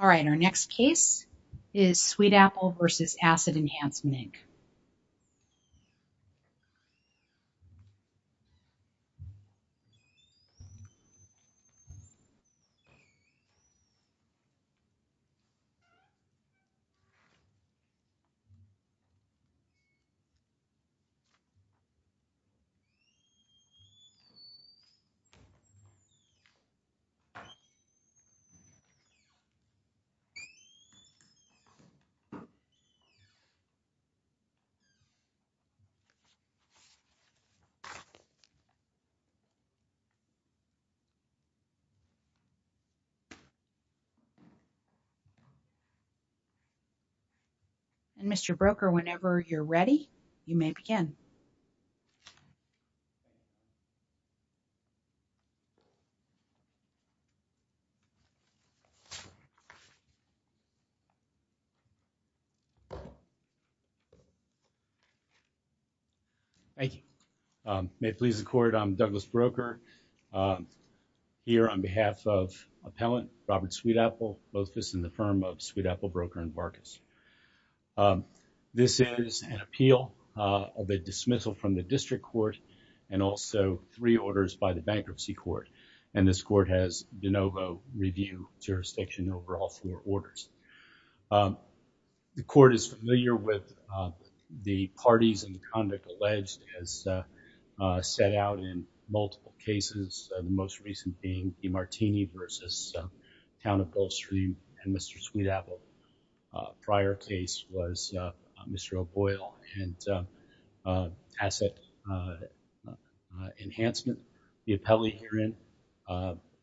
Alright, our next case is Sweetapple v. Asset Enhancement, Inc. Alright, our next case is Sweetapple v. Asset Enhancement, Inc. And Mr. Broker, whenever you're ready, you may begin. Thank you. May it please the court, I'm Douglas Broker. Here on behalf of appellant Robert Sweetapple, both this and the firm of Sweetapple, Broker, and Barkas. This is an appeal of a dismissal from the district court and also three orders by the bankruptcy court. And this court has de novo review jurisdiction overall for orders. The court is familiar with the parties and the conduct alleged as set out in multiple cases, the most recent being DiMartini v. Town of Goldstream and Mr. Sweetapple. Prior case was Mr. O'Boyle and Asset Enhancement. The appellee herein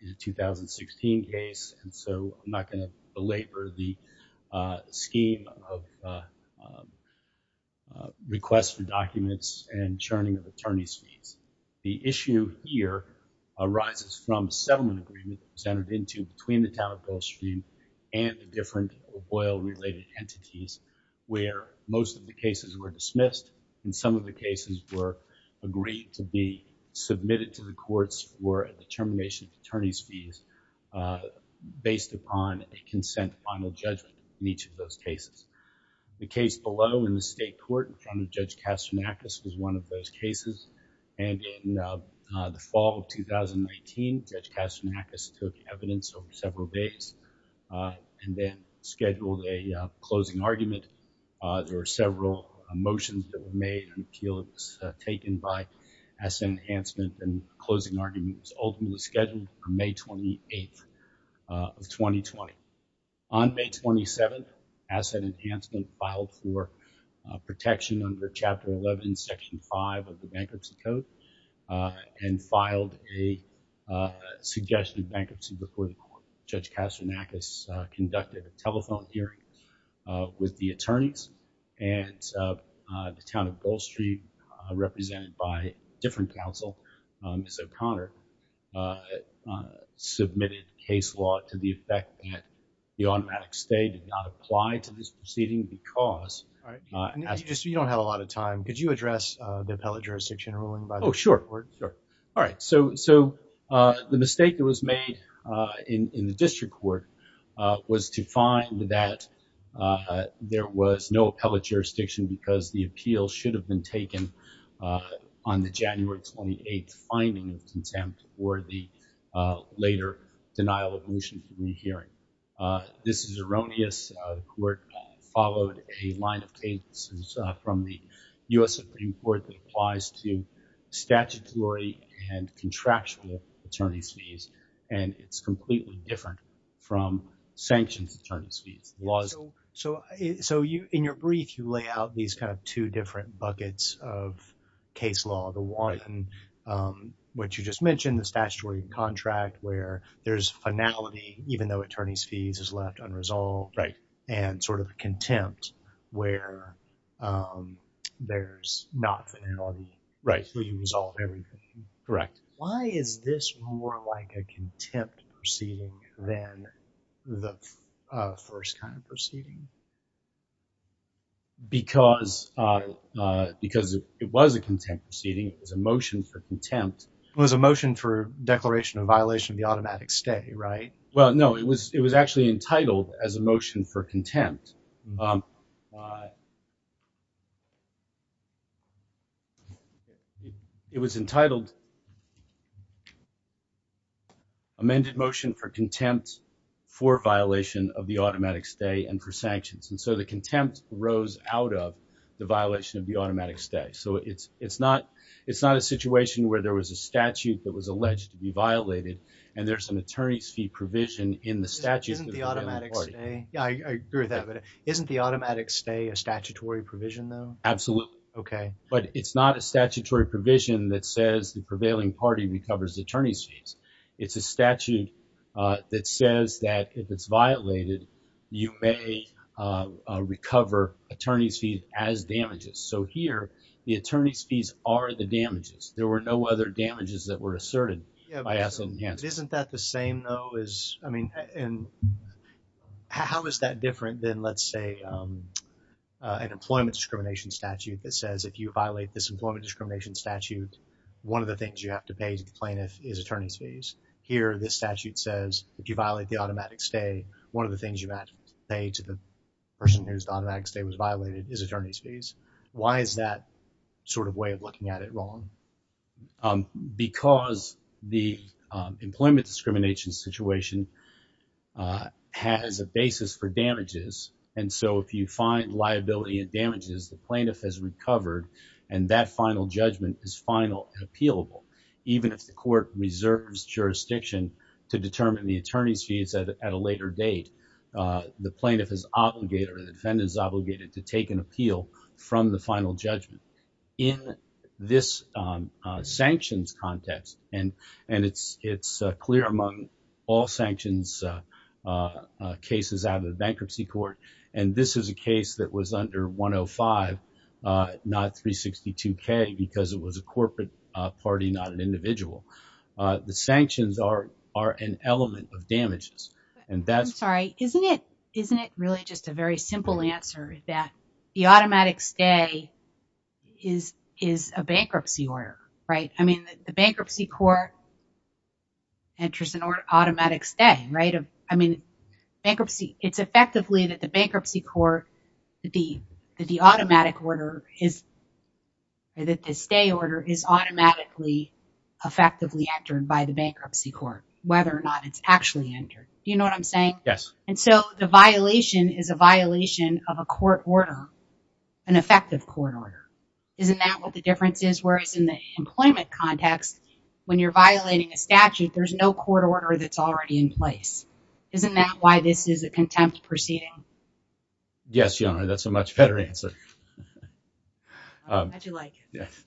is a 2016 case. And so I'm not going to belabor the scheme of requests for documents and churning of attorney's fees. The issue here arises from settlement agreement presented into between the Town of Goldstream and the different O'Boyle-related entities where most of the cases were dismissed and some of the cases were agreed to be submitted to the courts for a determination of attorney's fees based upon a consent final judgment in each of those cases. The case below in the state court in front of Judge Kastronakis was one of those cases. And in the fall of 2019, Judge Kastronakis took evidence over several days and then scheduled a closing argument. There were several motions that were made and the appeal was taken by Asset Enhancement and the closing argument was ultimately scheduled for May 28th of 2020. On May 27th, Asset Enhancement filed for protection under Chapter 11, Section 5 of the Bankruptcy Code and filed a suggestion of bankruptcy before the court. Judge Kastronakis conducted a telephone hearing with the attorneys and the Town of Goldstream, represented by a different counsel, Ms. O'Connor, submitted case law to the effect that the automatic stay did not apply to this proceeding because… You don't have a lot of time. Could you address the appellate jurisdiction ruling? Oh, sure. All right. So the mistake that was made in the district court was to find that there was no appellate jurisdiction because the appeal should have been taken on the January 28th finding of contempt for the later denial of motion in the hearing. This is erroneous. The court followed a line of cases from the U.S. Supreme Court that applies to statutory and contractual attorney's fees and it's completely different from sanctions attorney's fees. So in your brief, you lay out these kind of two different buckets of case law. The one which you just mentioned, the statutory and contract, where there's finality even though attorney's fees is left unresolved. Right. And sort of contempt where there's not finality. Right. So you resolve everything. Correct. Why is this more like a contempt proceeding than the first kind of proceeding? Because it was a contempt proceeding. It was a motion for contempt. It was a motion for declaration of violation of the automatic stay, right? Well, no. It was actually entitled as a motion for contempt. It was entitled amended motion for contempt for violation of the automatic stay and for sanctions. And so the contempt rose out of the violation of the automatic stay. So it's not a situation where there was a statute that was alleged to be violated and there's an attorney's fee provision in the statute. Isn't the automatic stay? Yeah, I agree with that. But isn't the automatic stay a statutory provision though? Absolutely. Okay. But it's not a statutory provision that says the prevailing party recovers attorney's fees. It's a statute that says that if it's violated, you may recover attorney's fee as damages. So here, the attorney's fees are the damages. There were no other damages that were asserted. Isn't that the same though? I mean, and how is that different than, let's say, an employment discrimination statute that says if you violate this employment discrimination statute, one of the things you have to pay to the plaintiff is attorney's fees. Here, this statute says if you violate the automatic stay, one of the things you have to pay to the person whose automatic stay was violated is attorney's fees. Why is that sort of way of looking at it wrong? Because the employment discrimination situation has a basis for damages. And so if you find liability and damages, the plaintiff has recovered, and that final judgment is final and appealable. Even if the court reserves jurisdiction to determine the attorney's fees at a later date, the plaintiff is obligated or the defendant is obligated to take an appeal from the final judgment. In this sanctions context, and it's clear among all sanctions cases out of the bankruptcy court, and this is a case that was under 105, not 362K, because it was a corporate party, not an individual. The sanctions are an element of damages. I'm sorry, isn't it really just a very simple answer that the automatic stay is a bankruptcy order, right? I mean, the bankruptcy court enters an automatic stay, right? It's effectively that the bankruptcy court, that the automatic order is, that the stay order is automatically effectively entered by the bankruptcy court, whether or not it's actually entered. Do you know what I'm saying? Yes. And so the violation is a violation of a court order, an effective court order. Isn't that what the difference is? Whereas in the employment context, when you're violating a statute, there's no court order that's already in place. Isn't that why this is a contempt proceeding? Yes, Your Honor, that's a much better answer. I'm glad you like it. Yes.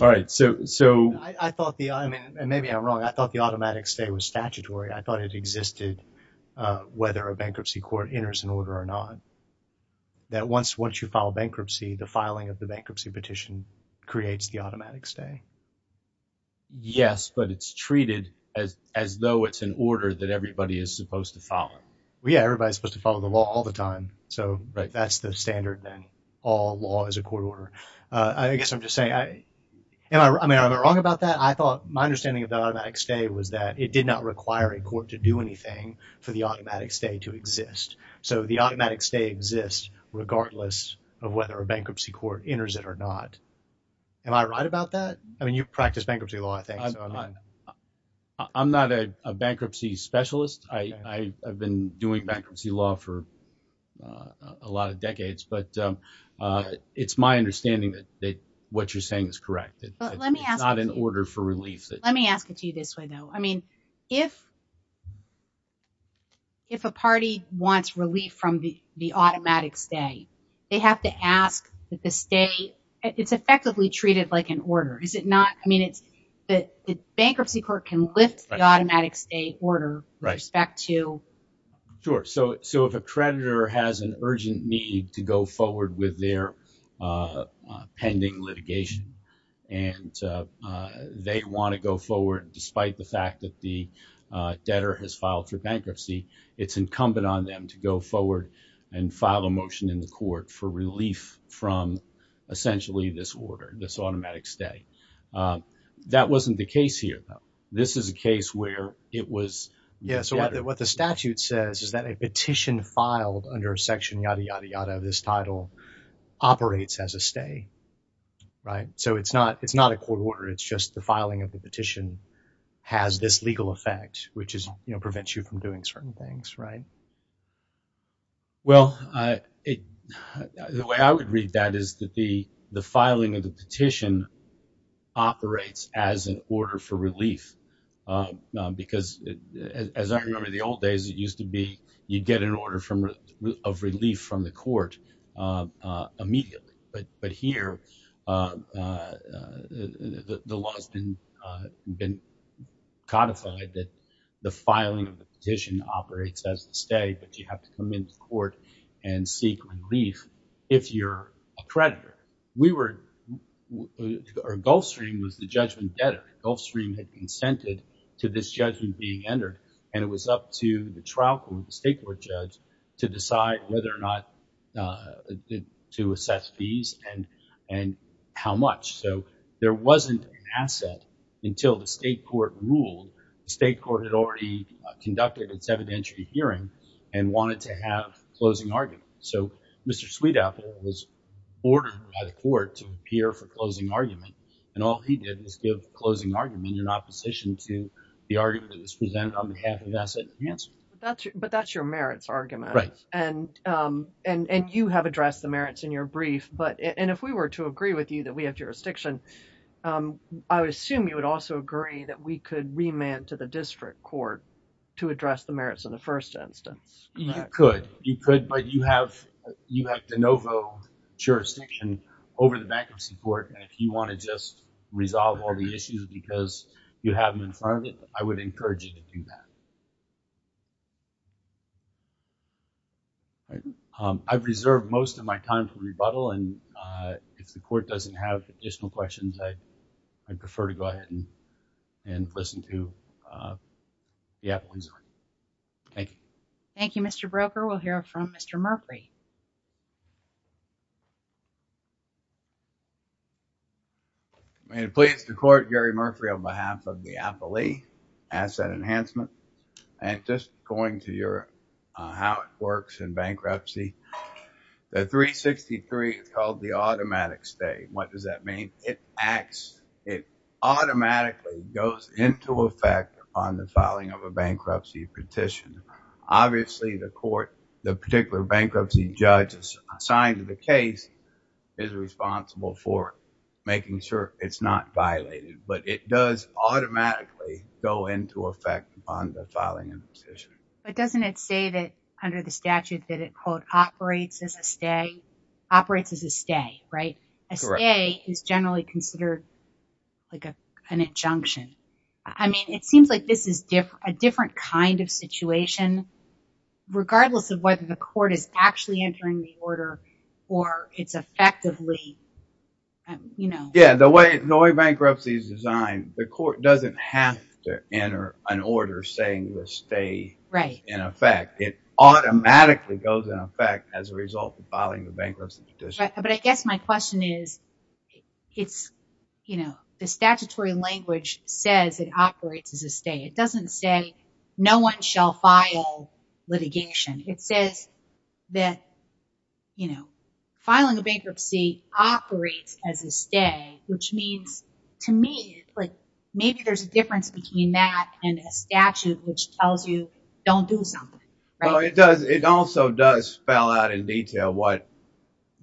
All right. So I thought the, I mean, and maybe I'm wrong, I thought the automatic stay was statutory. I thought it existed whether a bankruptcy court enters an order or not. That once you file bankruptcy, the filing of the bankruptcy petition creates the automatic stay. Yes, but it's treated as though it's an order that everybody is supposed to follow. Yeah, everybody's supposed to follow the law all the time. So that's the standard then. All law is a court order. I guess I'm just saying, am I wrong about that? I thought my understanding of the automatic stay was that it did not require a court to do anything for the automatic stay to exist. So the automatic stay exists regardless of whether a bankruptcy court enters it or not. Am I right about that? I mean, you practice bankruptcy law, I think. I'm not a bankruptcy specialist. I've been doing bankruptcy law for a lot of decades, but it's my understanding that what you're saying is correct. It's not an order for relief. Let me ask it to you this way, though. I mean, if a party wants relief from the automatic stay, they have to ask that the stay – it's effectively treated like an order, is it not? I mean, the bankruptcy court can lift the automatic stay order with respect to – Sure. So if a creditor has an urgent need to go forward with their pending litigation and they want to go forward despite the fact that the debtor has filed for bankruptcy, it's incumbent on them to go forward and file a motion in the court for relief from essentially this order, this automatic stay. That wasn't the case here, though. This is a case where it was the debtor. What it says is that a petition filed under section yada, yada, yada of this title operates as a stay, right? So it's not a court order. It's just the filing of the petition has this legal effect, which prevents you from doing certain things, right? Well, the way I would read that is that the filing of the petition operates as an order for relief. Because as I remember the old days, it used to be you'd get an order of relief from the court immediately. But here the law has been codified that the filing of the petition operates as a stay, but you have to come into court and seek relief if you're a creditor. We were – or Gulfstream was the judgment debtor. Gulfstream had consented to this judgment being entered, and it was up to the trial court, the state court judge, to decide whether or not to assess fees and how much. So there wasn't an asset until the state court ruled. The state court had already conducted its evidentiary hearing and wanted to have a closing argument. So Mr. Sweetapple was ordered by the court to appear for closing argument, and all he did was give the closing argument in opposition to the argument that was presented on behalf of asset enhancement. But that's your merits argument. Right. And you have addressed the merits in your brief. And if we were to agree with you that we have jurisdiction, I would assume you would also agree that we could remand to the district court to address the merits in the first instance. You could, but you have de novo jurisdiction over the bankruptcy court, and if you want to just resolve all the issues because you have them in front of you, I would encourage you to do that. I've reserved most of my time for rebuttal, and if the court doesn't have additional questions, I'd prefer to go ahead and listen to the appellant's argument. Thank you. Thank you, Mr. Broker. We'll hear from Mr. Murphy. I'm pleased to court Gary Murphy on behalf of the appellee asset enhancement. And just going to your how it works in bankruptcy, the 363 is called the automatic stay. What does that mean? It automatically goes into effect on the filing of a bankruptcy petition. Obviously, the court, the particular bankruptcy judge assigned to the case is responsible for making sure it's not violated, but it does automatically go into effect on the filing of the petition. But doesn't it say that under the statute that it operates as a stay? Operates as a stay, right? A stay is generally considered like an injunction. I mean, it seems like this is a different kind of situation, regardless of whether the court is actually entering the order or it's effectively, you know. Yeah, the way bankruptcy is designed, the court doesn't have to enter an order saying the stay is in effect. It automatically goes into effect as a result of filing the bankruptcy petition. But I guess my question is, it's, you know, the statutory language says it operates as a stay. It doesn't say no one shall file litigation. It says that, you know, filing a bankruptcy operates as a stay, which means to me, like, maybe there's a difference between that and a statute which tells you don't do something. Well, it does. It also does spell out in detail what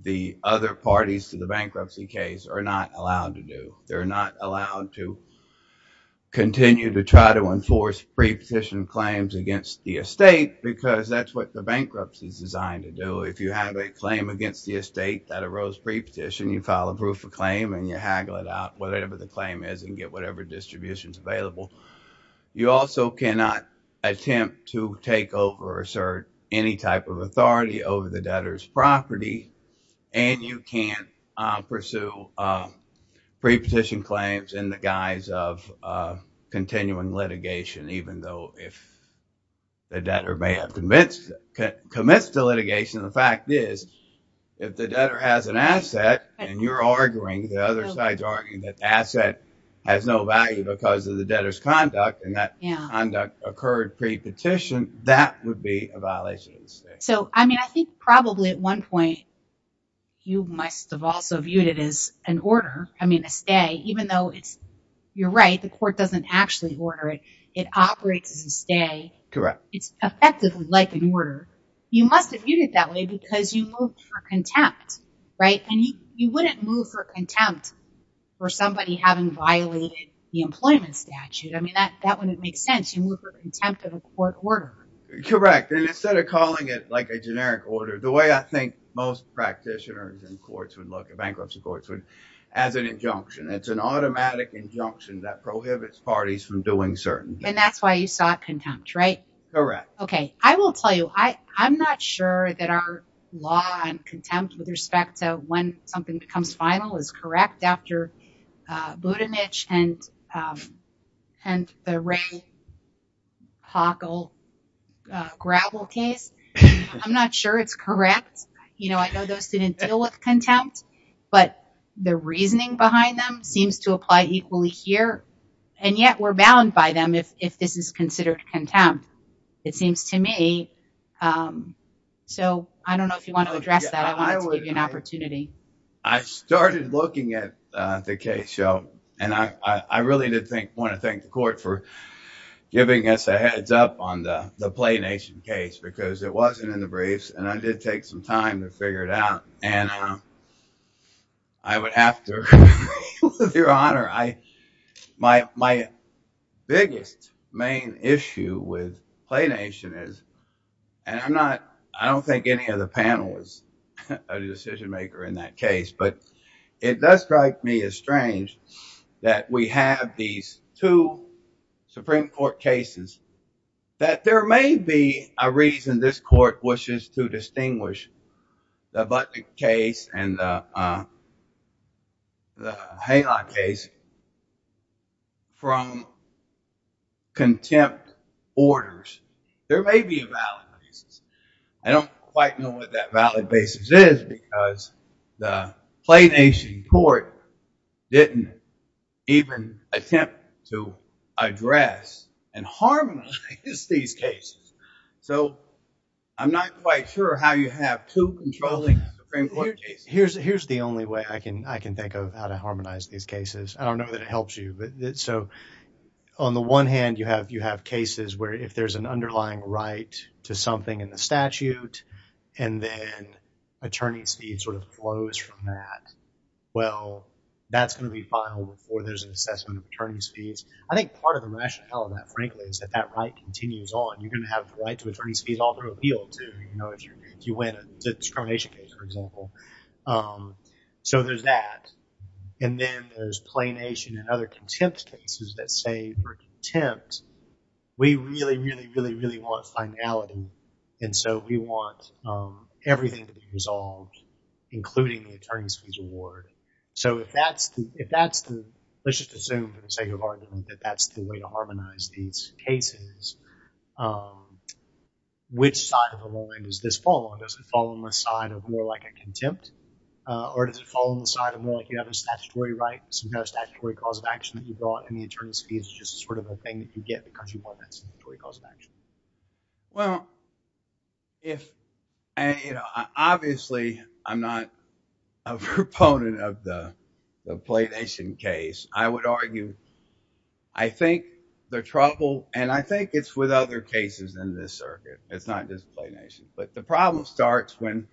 the other parties to the bankruptcy case are not allowed to do. They're not allowed to continue to try to enforce pre-petition claims against the estate because that's what the bankruptcy is designed to do. If you have a claim against the estate that arose pre-petition, you file a proof of claim and you haggle it out, whatever the claim is and get whatever distributions available. You also cannot attempt to take over or assert any type of authority over the debtor's property. And you can't pursue pre-petition claims in the guise of continuing litigation, even though if the debtor may have commenced the litigation. The fact is, if the debtor has an asset and you're arguing, the other side's arguing that the asset has no value because of the debtor's conduct and that conduct occurred pre-petition, that would be a violation of the estate. So, I mean, I think probably at one point you must have also viewed it as an order. I mean, a stay, even though it's, you're right, the court doesn't actually order it. It operates as a stay. Correct. It's effectively like an order. You must have viewed it that way because you moved for contempt, right? And you wouldn't move for contempt for somebody having violated the employment statute. I mean, that wouldn't make sense. You move for contempt of a court order. Correct. And instead of calling it like a generic order, the way I think most practitioners and courts would look at bankruptcy courts as an injunction. It's an automatic injunction that prohibits parties from doing certain things. And that's why you sought contempt, right? Correct. Okay. I will tell you, I'm not sure that our law on contempt with respect to when something becomes final is correct after Budenich and the Ray Hockle gravel case. I'm not sure it's correct. You know, I know those didn't deal with contempt. But the reasoning behind them seems to apply equally here. And yet we're bound by them if this is considered contempt. It seems to me. So I don't know if you want to address that. I wanted to give you an opportunity. I started looking at the case, and I really did want to thank the court for giving us a heads up on the Play Nation case because it wasn't in the briefs. And I did take some time to figure it out. And I would have to, with your honor, my biggest main issue with Play Nation is, and I'm not, I don't think any of the panelists are the decision maker in that case. But it does strike me as strange that we have these two Supreme Court cases that there may be a reason this court wishes to distinguish the Budenich case and the Haylock case from contempt orders. There may be a valid basis. I don't quite know what that valid basis is because the Play Nation court didn't even attempt to address and harmonize these cases. So I'm not quite sure how you have two controlling Supreme Court cases. Here's the only way I can think of how to harmonize these cases. I don't know that it helps you. On the one hand, you have cases where if there's an underlying right to something in the statute, and then attorney's fees sort of flows from that. Well, that's going to be filed before there's an assessment of attorney's fees. I think part of the rationale of that, frankly, is that that right continues on. You're going to have the right to attorney's fees all through appeal, too, if you win a discrimination case, for example. So there's that. And then there's Play Nation and other contempt cases that say for contempt, we really, really, really, really want finality. And so we want everything to be resolved, including the attorney's fees award. So if that's the – let's just assume for the sake of argument that that's the way to harmonize these cases, which side of the line does this fall on? Does it fall on the side of more like a contempt? Or does it fall on the side of more like you have a statutory right, some kind of statutory cause of action that you brought, and the attorney's fees is just sort of a thing that you get because you want that statutory cause of action? Well, if – obviously, I'm not a proponent of the Play Nation case. I would argue I think the trouble – and I think it's with other cases in this circuit. It's not just Play Nation. But the problem starts when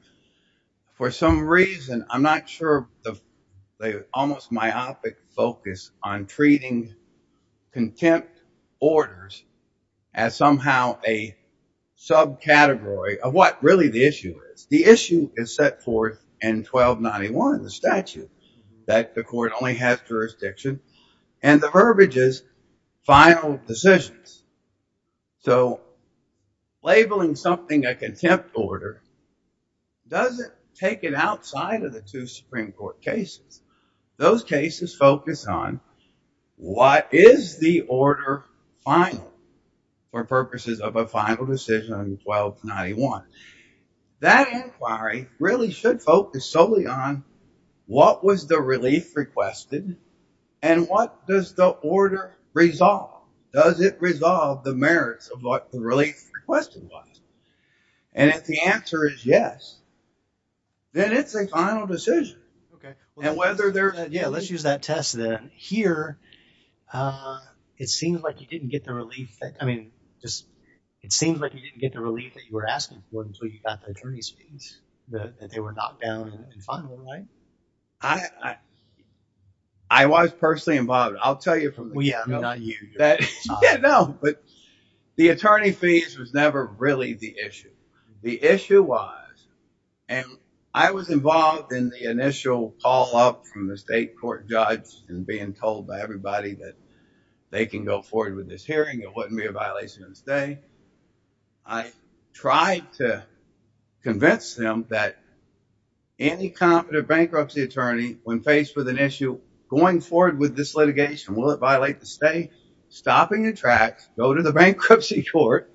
for some reason, I'm not sure the almost myopic focus on treating contempt orders as somehow a subcategory of what really the issue is. The issue is set forth in 1291, the statute, that the court only has jurisdiction, and the verbiage is final decisions. So labeling something a contempt order doesn't take it outside of the two Supreme Court cases. Those cases focus on what is the order final for purposes of a final decision on 1291. That inquiry really should focus solely on what was the relief requested and what does the order resolve? Does it resolve the merits of what the relief requested was? And if the answer is yes, then it's a final decision. Okay. And whether there – Yeah, let's use that test then. Here, it seems like you didn't get the relief that – I mean, it seems like you didn't get the relief that you were asking for until you got the attorney's fees, that they were knocked down and final, right? I was personally involved. I'll tell you from – Well, yeah, not you. Yeah, no, but the attorney fees was never really the issue. The issue was – and I was involved in the initial call-up from the state court judge and being told by everybody that they can go forward with this hearing, it wouldn't be a violation of the state. I tried to convince them that any competent bankruptcy attorney, when faced with an issue, going forward with this litigation, will it violate the state? Stopping the track, go to the bankruptcy court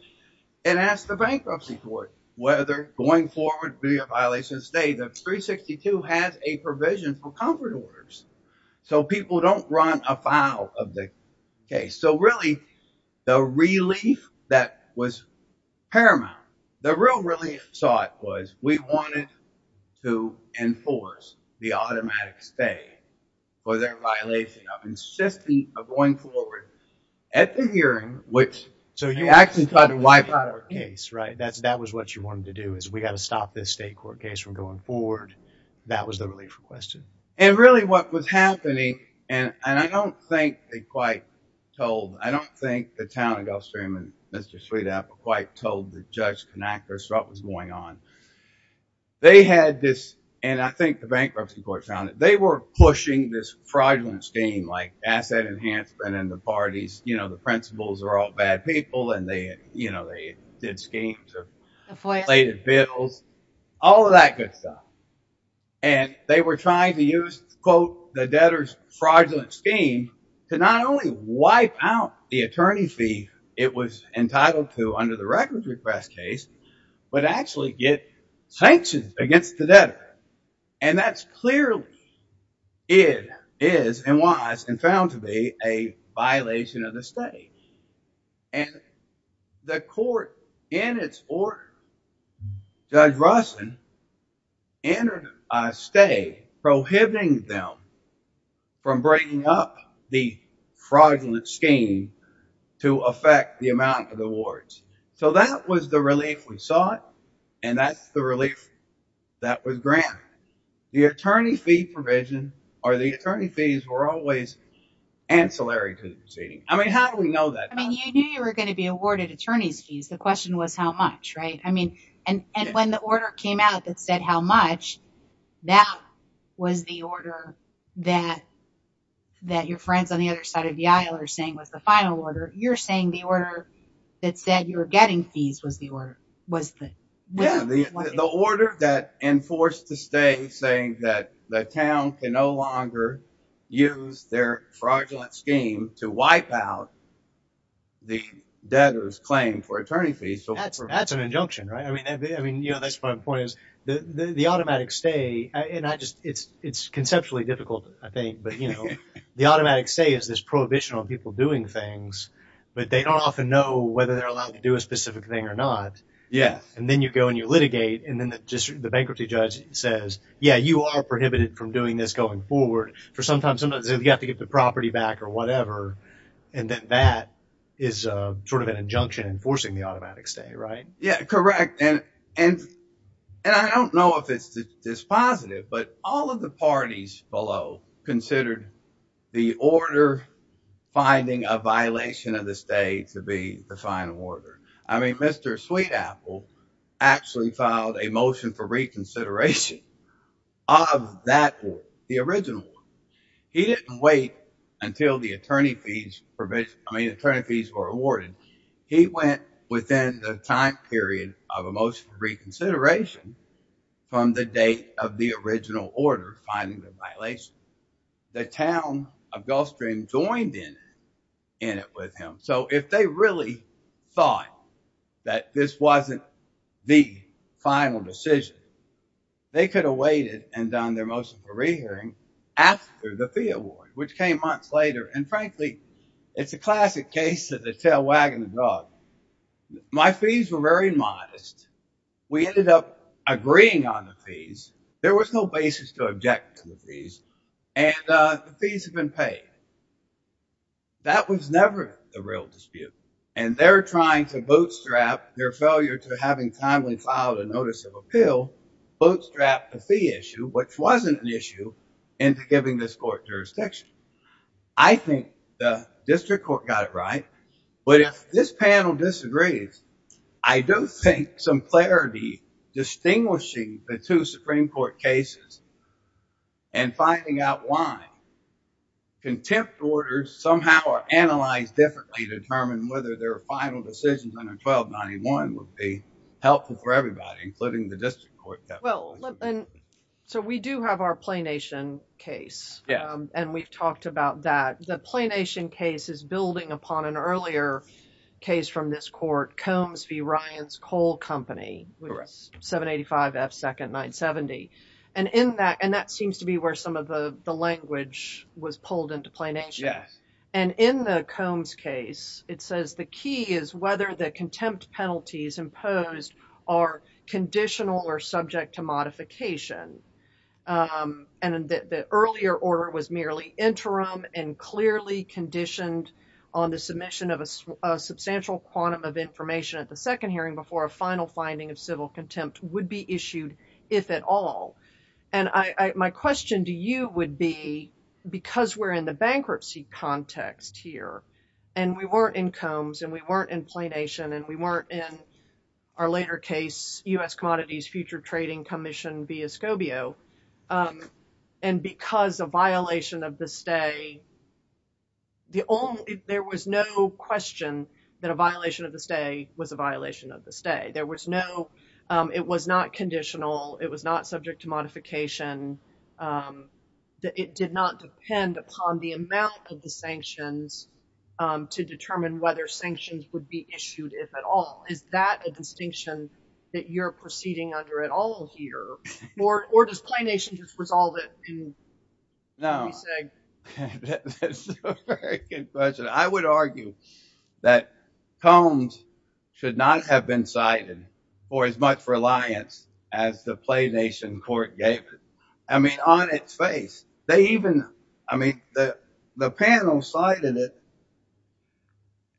and ask the bankruptcy court whether going forward would be a violation of the state. The 362 has a provision for comfort orders, so people don't run afoul of the case. So, really, the relief that was paramount, the real relief sought was we wanted to enforce the automatic stay for their violation of insisting on going forward at the hearing. So, you actually tried to wipe out our case, right? That was what you wanted to do, is we got to stop this state court case from going forward. That was the relief requested. And, really, what was happening – and I don't think they quite told – I don't think the town of Gulfstream and Mr. Sweet Apple quite told the judge Connachter what was going on. They had this – and I think the bankruptcy court found it – they were pushing this fraudulent scheme like asset enhancement and the parties, you know, the principals are all bad people and they, you know, they did schemes of inflated bills. All of that good stuff. And they were trying to use, quote, the debtor's fraudulent scheme to not only wipe out the attorney fee it was entitled to under the records request case, but actually get sanctions against the debtor. And that's clearly – it is and was and found to be a violation of the state. And the court, in its order, Judge Rossin entered a stay prohibiting them from bringing up the fraudulent scheme to affect the amount of awards. So, that was the relief we sought and that's the relief that was granted. The attorney fee provision or the attorney fees were always ancillary to the proceeding. I mean, how do we know that? I mean, you knew you were going to be awarded attorney's fees. The question was how much, right? I mean, and when the order came out that said how much, that was the order that your friends on the other side of the aisle are saying was the final order. You're saying the order that said you were getting fees was the order. Yeah, the order that enforced the stay saying that the town can no longer use their fraudulent scheme to wipe out the debtor's claim for attorney fees. That's an injunction, right? I mean, that's my point is the automatic stay and I just – it's conceptually difficult, I think. But, you know, the automatic stay is this prohibition on people doing things, but they don't often know whether they're allowed to do a specific thing or not. Yes. And then you go and you litigate and then the bankruptcy judge says, yeah, you are prohibited from doing this going forward for some time. Sometimes you have to get the property back or whatever. And then that is sort of an injunction enforcing the automatic stay, right? Yeah, correct. And I don't know if it's this positive, but all of the parties below considered the order finding a violation of the stay to be the final order. I mean, Mr. Sweetapple actually filed a motion for reconsideration of that, the original. He didn't wait until the attorney fees were awarded. He went within the time period of a motion for reconsideration from the date of the original order finding the violation. The town of Gulfstream joined in it with him. So if they really thought that this wasn't the final decision, they could have waited and done their motion for rehearing after the fee award, which came months later. And frankly, it's a classic case of the tail wagging the dog. My fees were very modest. We ended up agreeing on the fees. There was no basis to object to the fees and the fees have been paid. That was never the real dispute. And they're trying to bootstrap their failure to having timely filed a notice of appeal, bootstrap the fee issue, which wasn't an issue, into giving this court jurisdiction. I think the district court got it right. But if this panel disagrees, I do think some clarity distinguishing the two Supreme Court cases and finding out why contempt orders somehow are analyzed differently to determine whether their final decisions under 1291 would be helpful for everybody, including the district court. So we do have our Planation case. And we've talked about that. The Planation case is building upon an earlier case from this court, Combs v. Ryan's Coal Company, 785 F. 2nd 970. And that seems to be where some of the language was pulled into Planation. And in the Combs case, it says the key is whether the contempt penalties imposed are conditional or subject to modification. And the earlier order was merely interim and clearly conditioned on the submission of a substantial quantum of information at the second hearing before a final finding of civil contempt would be issued, if at all. And my question to you would be, because we're in the bankruptcy context here, and we weren't in Combs, and we weren't in Planation, and we weren't in our later case, U.S. Commodities Future Trading Commission v. Escobio, and because a violation of the stay, there was no question that a violation of the stay was a violation of the stay. It was not conditional. It was not subject to modification. It did not depend upon the amount of the sanctions to determine whether sanctions would be issued, if at all. Is that a distinction that you're proceeding under at all here? Or does Planation just resolve it? No. That's a very good question. I would argue that Combs should not have been cited for as much reliance as the Planation court gave it. I mean, the panel cited it,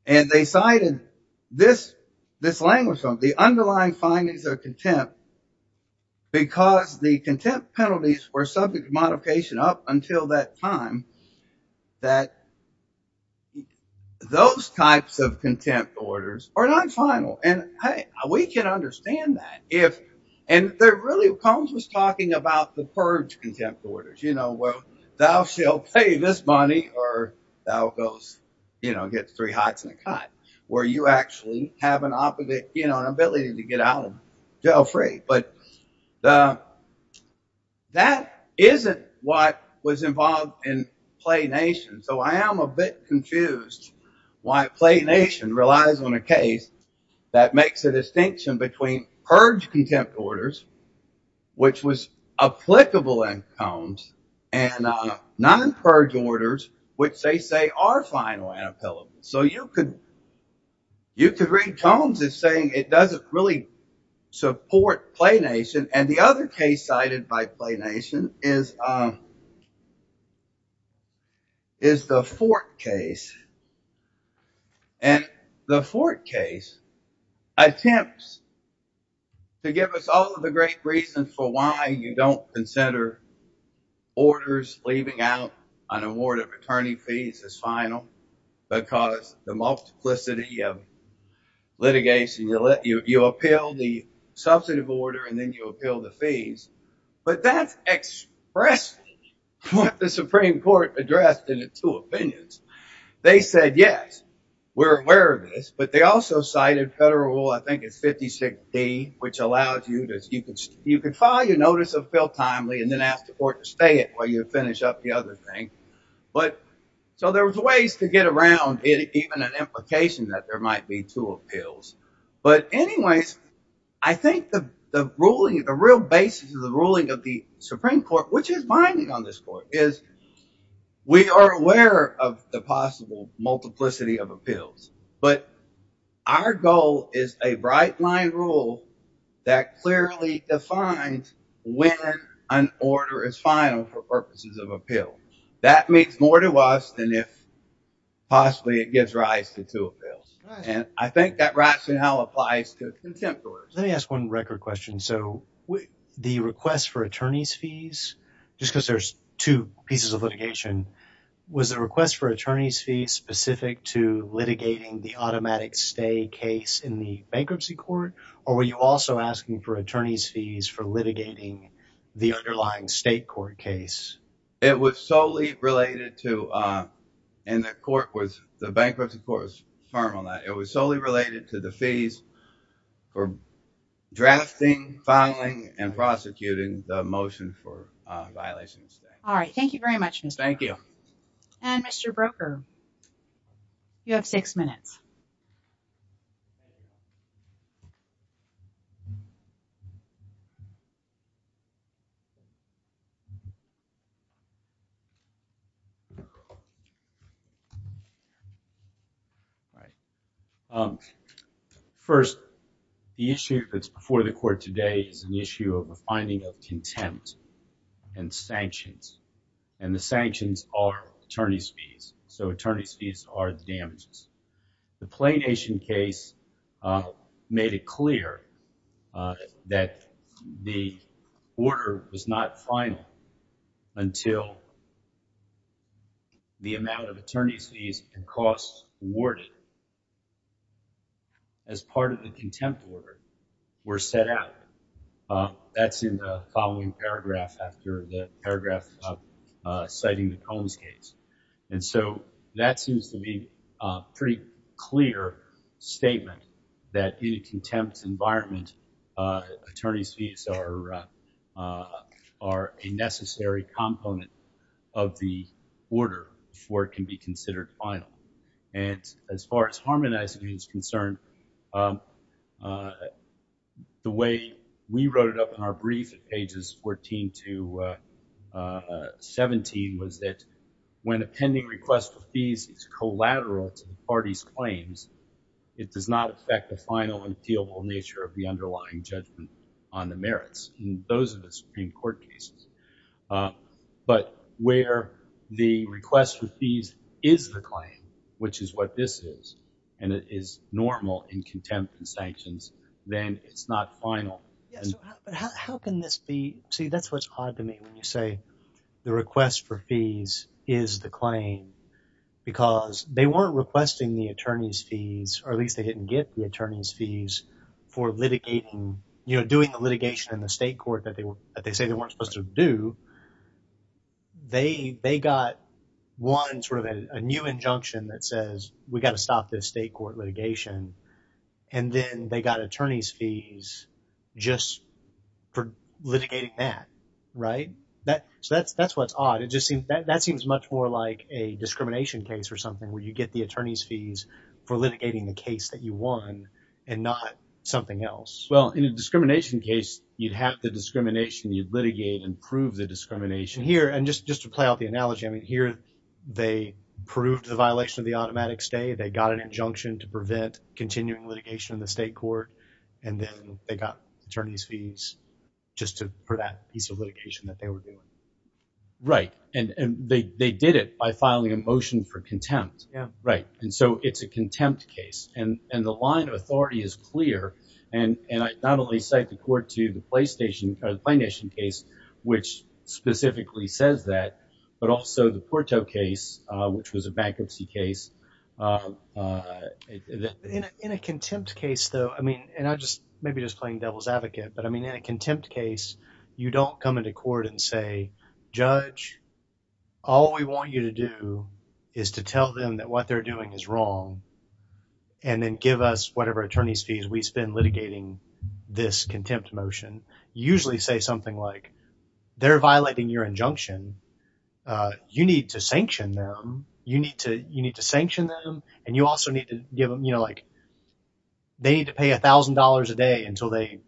and they cited this language from it, the underlying findings of contempt, because the contempt penalties were subject to modification up until that time, that those types of contempt orders are not final. And, hey, we can understand that. And, really, Combs was talking about the purge contempt orders. You know, well, thou shall pay this money, or thou goes, you know, gets three hots and a cut, where you actually have an ability to get out and go free. But that isn't what was involved in Planation. So I am a bit confused why Planation relies on a case that makes a distinction between purge contempt orders, which was applicable in Combs, and non-purge orders, which they say are final and appellable. So you could read Combs as saying it doesn't really support Planation. And the other case cited by Planation is the Fort case. And the Fort case attempts to give us all of the great reasons for why you don't consider orders leaving out an award of attorney fees as final, because the multiplicity of litigation. You appeal the substantive order, and then you appeal the fees, but that's expressing what the Supreme Court addressed in its two opinions. They said, yes, we're aware of this, but they also cited Federal Rule, I think it's 56D, which allows you to, you can file your notice of appeal timely and then ask the court to stay it while you finish up the other thing. But, so there was ways to get around it, even an implication that there might be two appeals. But anyways, I think the ruling, the real basis of the ruling of the Supreme Court, which is binding on this court, is we are aware of the possible multiplicity of appeals. But our goal is a bright line rule that clearly defines when an order is final for purposes of appeal. That means more to us than if possibly it gives rise to two appeals. And I think that rationale applies to contempt orders. Let me ask one record question. So the request for attorney's fees, just because there's two pieces of litigation, was the request for attorney's fees specific to litigating the automatic stay case in the bankruptcy court? Or were you also asking for attorney's fees for litigating the underlying state court case? It was solely related to, and the court was, the bankruptcy court was firm on that. It was solely related to the fees for drafting, filing, and prosecuting the motion for violation of stay. All right. Thank you very much. Thank you. And Mr. Broker, you have six minutes. All right. First, the issue that's before the court today is an issue of a finding of contempt and sanctions. And the sanctions are attorney's fees. So attorney's fees are damages. The PlayNation case made it clear that the order was not final until the amount of attorney's fees and costs awarded as part of the contempt order were set out. That's in the following paragraph after the paragraph citing the Combs case. And so that seems to be a pretty clear statement that in a contempt environment, attorney's fees are a necessary component of the order before it can be considered final. And as far as harmonizing is concerned, the way we wrote it up in our brief at pages 14 to 17 was that when a pending request for fees is collateral to the party's claims, it does not affect the final and feelable nature of the underlying judgment on the merits. And those are the Supreme Court cases. But where the request for fees is the claim, which is what this is, and it is normal in contempt and sanctions, then it's not final. But how can this be – see, that's what's odd to me when you say the request for fees is the claim because they weren't requesting the attorney's fees, or at least they didn't get the attorney's fees for litigating – doing the litigation in the state court that they say they weren't supposed to do. They got one sort of a new injunction that says we've got to stop this state court litigation, and then they got attorney's fees just for litigating that, right? So that's what's odd. It just seems – that seems much more like a discrimination case or something where you get the attorney's fees for litigating the case that you won and not something else. Well, in a discrimination case, you'd have the discrimination. You'd litigate and prove the discrimination here. And just to play out the analogy, I mean here they proved the violation of the automatic stay. They got an injunction to prevent continuing litigation in the state court, and then they got attorney's fees just for that piece of litigation that they were doing. Right. And they did it by filing a motion for contempt. Yeah. Right. And so it's a contempt case. And the line of authority is clear, and I not only cite the court to the PlayStation – or the PlayNation case, which specifically says that, but also the Porto case, which was a bankruptcy case. In a contempt case though, I mean – and I just – maybe just playing devil's advocate. But I mean in a contempt case, you don't come into court and say, judge, all we want you to do is to tell them that what they're doing is wrong and then give us whatever attorney's fees we spend litigating this contempt motion. You usually say something like, they're violating your injunction. You need to sanction them. And you also need to give them – they need to pay $1,000 a day until they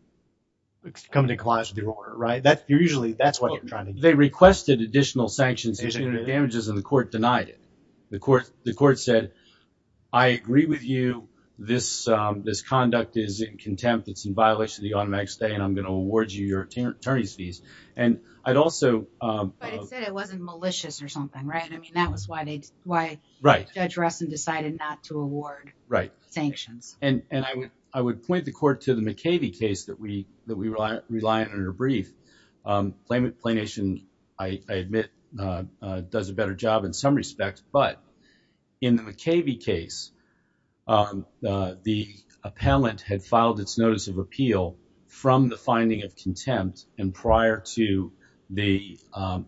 come to compliance with your order, right? Usually that's what you're trying to do. They requested additional sanctions and damages, and the court denied it. The court said, I agree with you. This conduct is in contempt. It's in violation of the automatic stay, and I'm going to award you your attorney's fees. And I'd also – But it said it wasn't malicious or something, right? I mean, that was why they – why Judge Russell decided not to award sanctions. Right. And I would point the court to the McAvey case that we rely on in our brief. PlayNation, I admit, does a better job in some respects. But in the McAvey case, the appellant had filed its notice of appeal from the finding of contempt and prior to the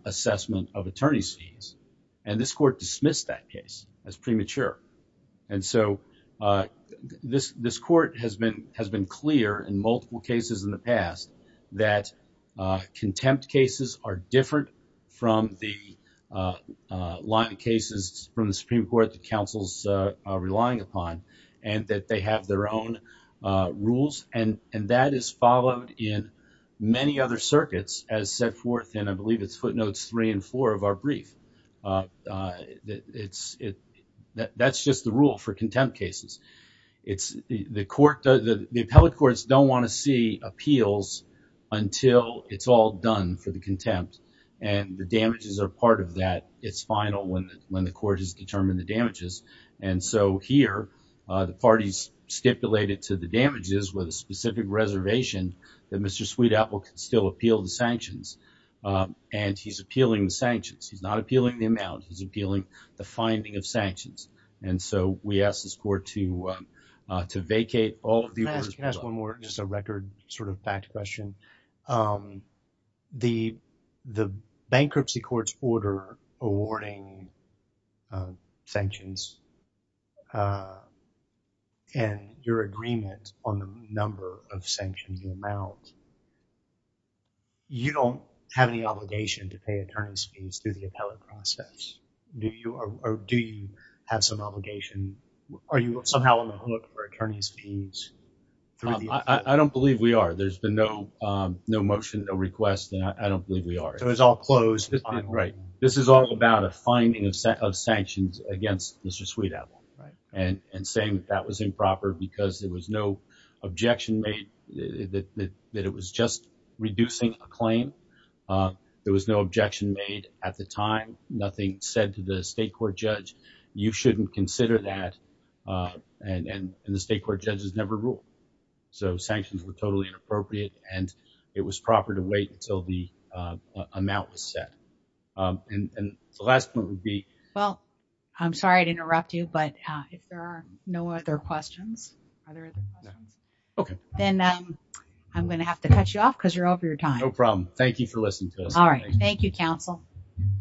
assessment of attorney's fees. And this court dismissed that case as premature. And so this court has been clear in multiple cases in the past that contempt cases are different from the line of cases from the Supreme Court that counsels are relying upon and that they have their own rules. And that is followed in many other circuits, as set forth in, I believe it's footnotes three and four of our brief. It's – that's just the rule for contempt cases. It's – the court – the appellate courts don't want to see appeals until it's all done for the contempt. And the damages are part of that. It's final when the court has determined the damages. And so here, the parties stipulate it to the damages with a specific reservation that Mr. Sweetapple can still appeal the sanctions. And he's appealing the sanctions. He's not appealing the amount. He's appealing the finding of sanctions. And so we ask this court to vacate all of the orders. Just a record sort of fact question. The bankruptcy court's order awarding sanctions and your agreement on the number of sanctions amount, you don't have any obligation to pay attorney's fees through the appellate process. Do you have some obligation? Are you somehow on the hook for attorney's fees through the – I don't believe we are. There's been no motion, no request, and I don't believe we are. So it's all closed. Right. This is all about a finding of sanctions against Mr. Sweetapple. Right. And saying that that was improper because there was no objection made that it was just reducing a claim. There was no objection made at the time. Nothing said to the state court judge. You shouldn't consider that. And the state court judges never rule. So sanctions were totally inappropriate, and it was proper to wait until the amount was set. And the last point would be – Well, I'm sorry to interrupt you, but if there are no other questions, are there other questions? Okay. Then I'm going to have to cut you off because you're over your time. No problem. Thank you for listening to us today. All right. Thank you, counsel.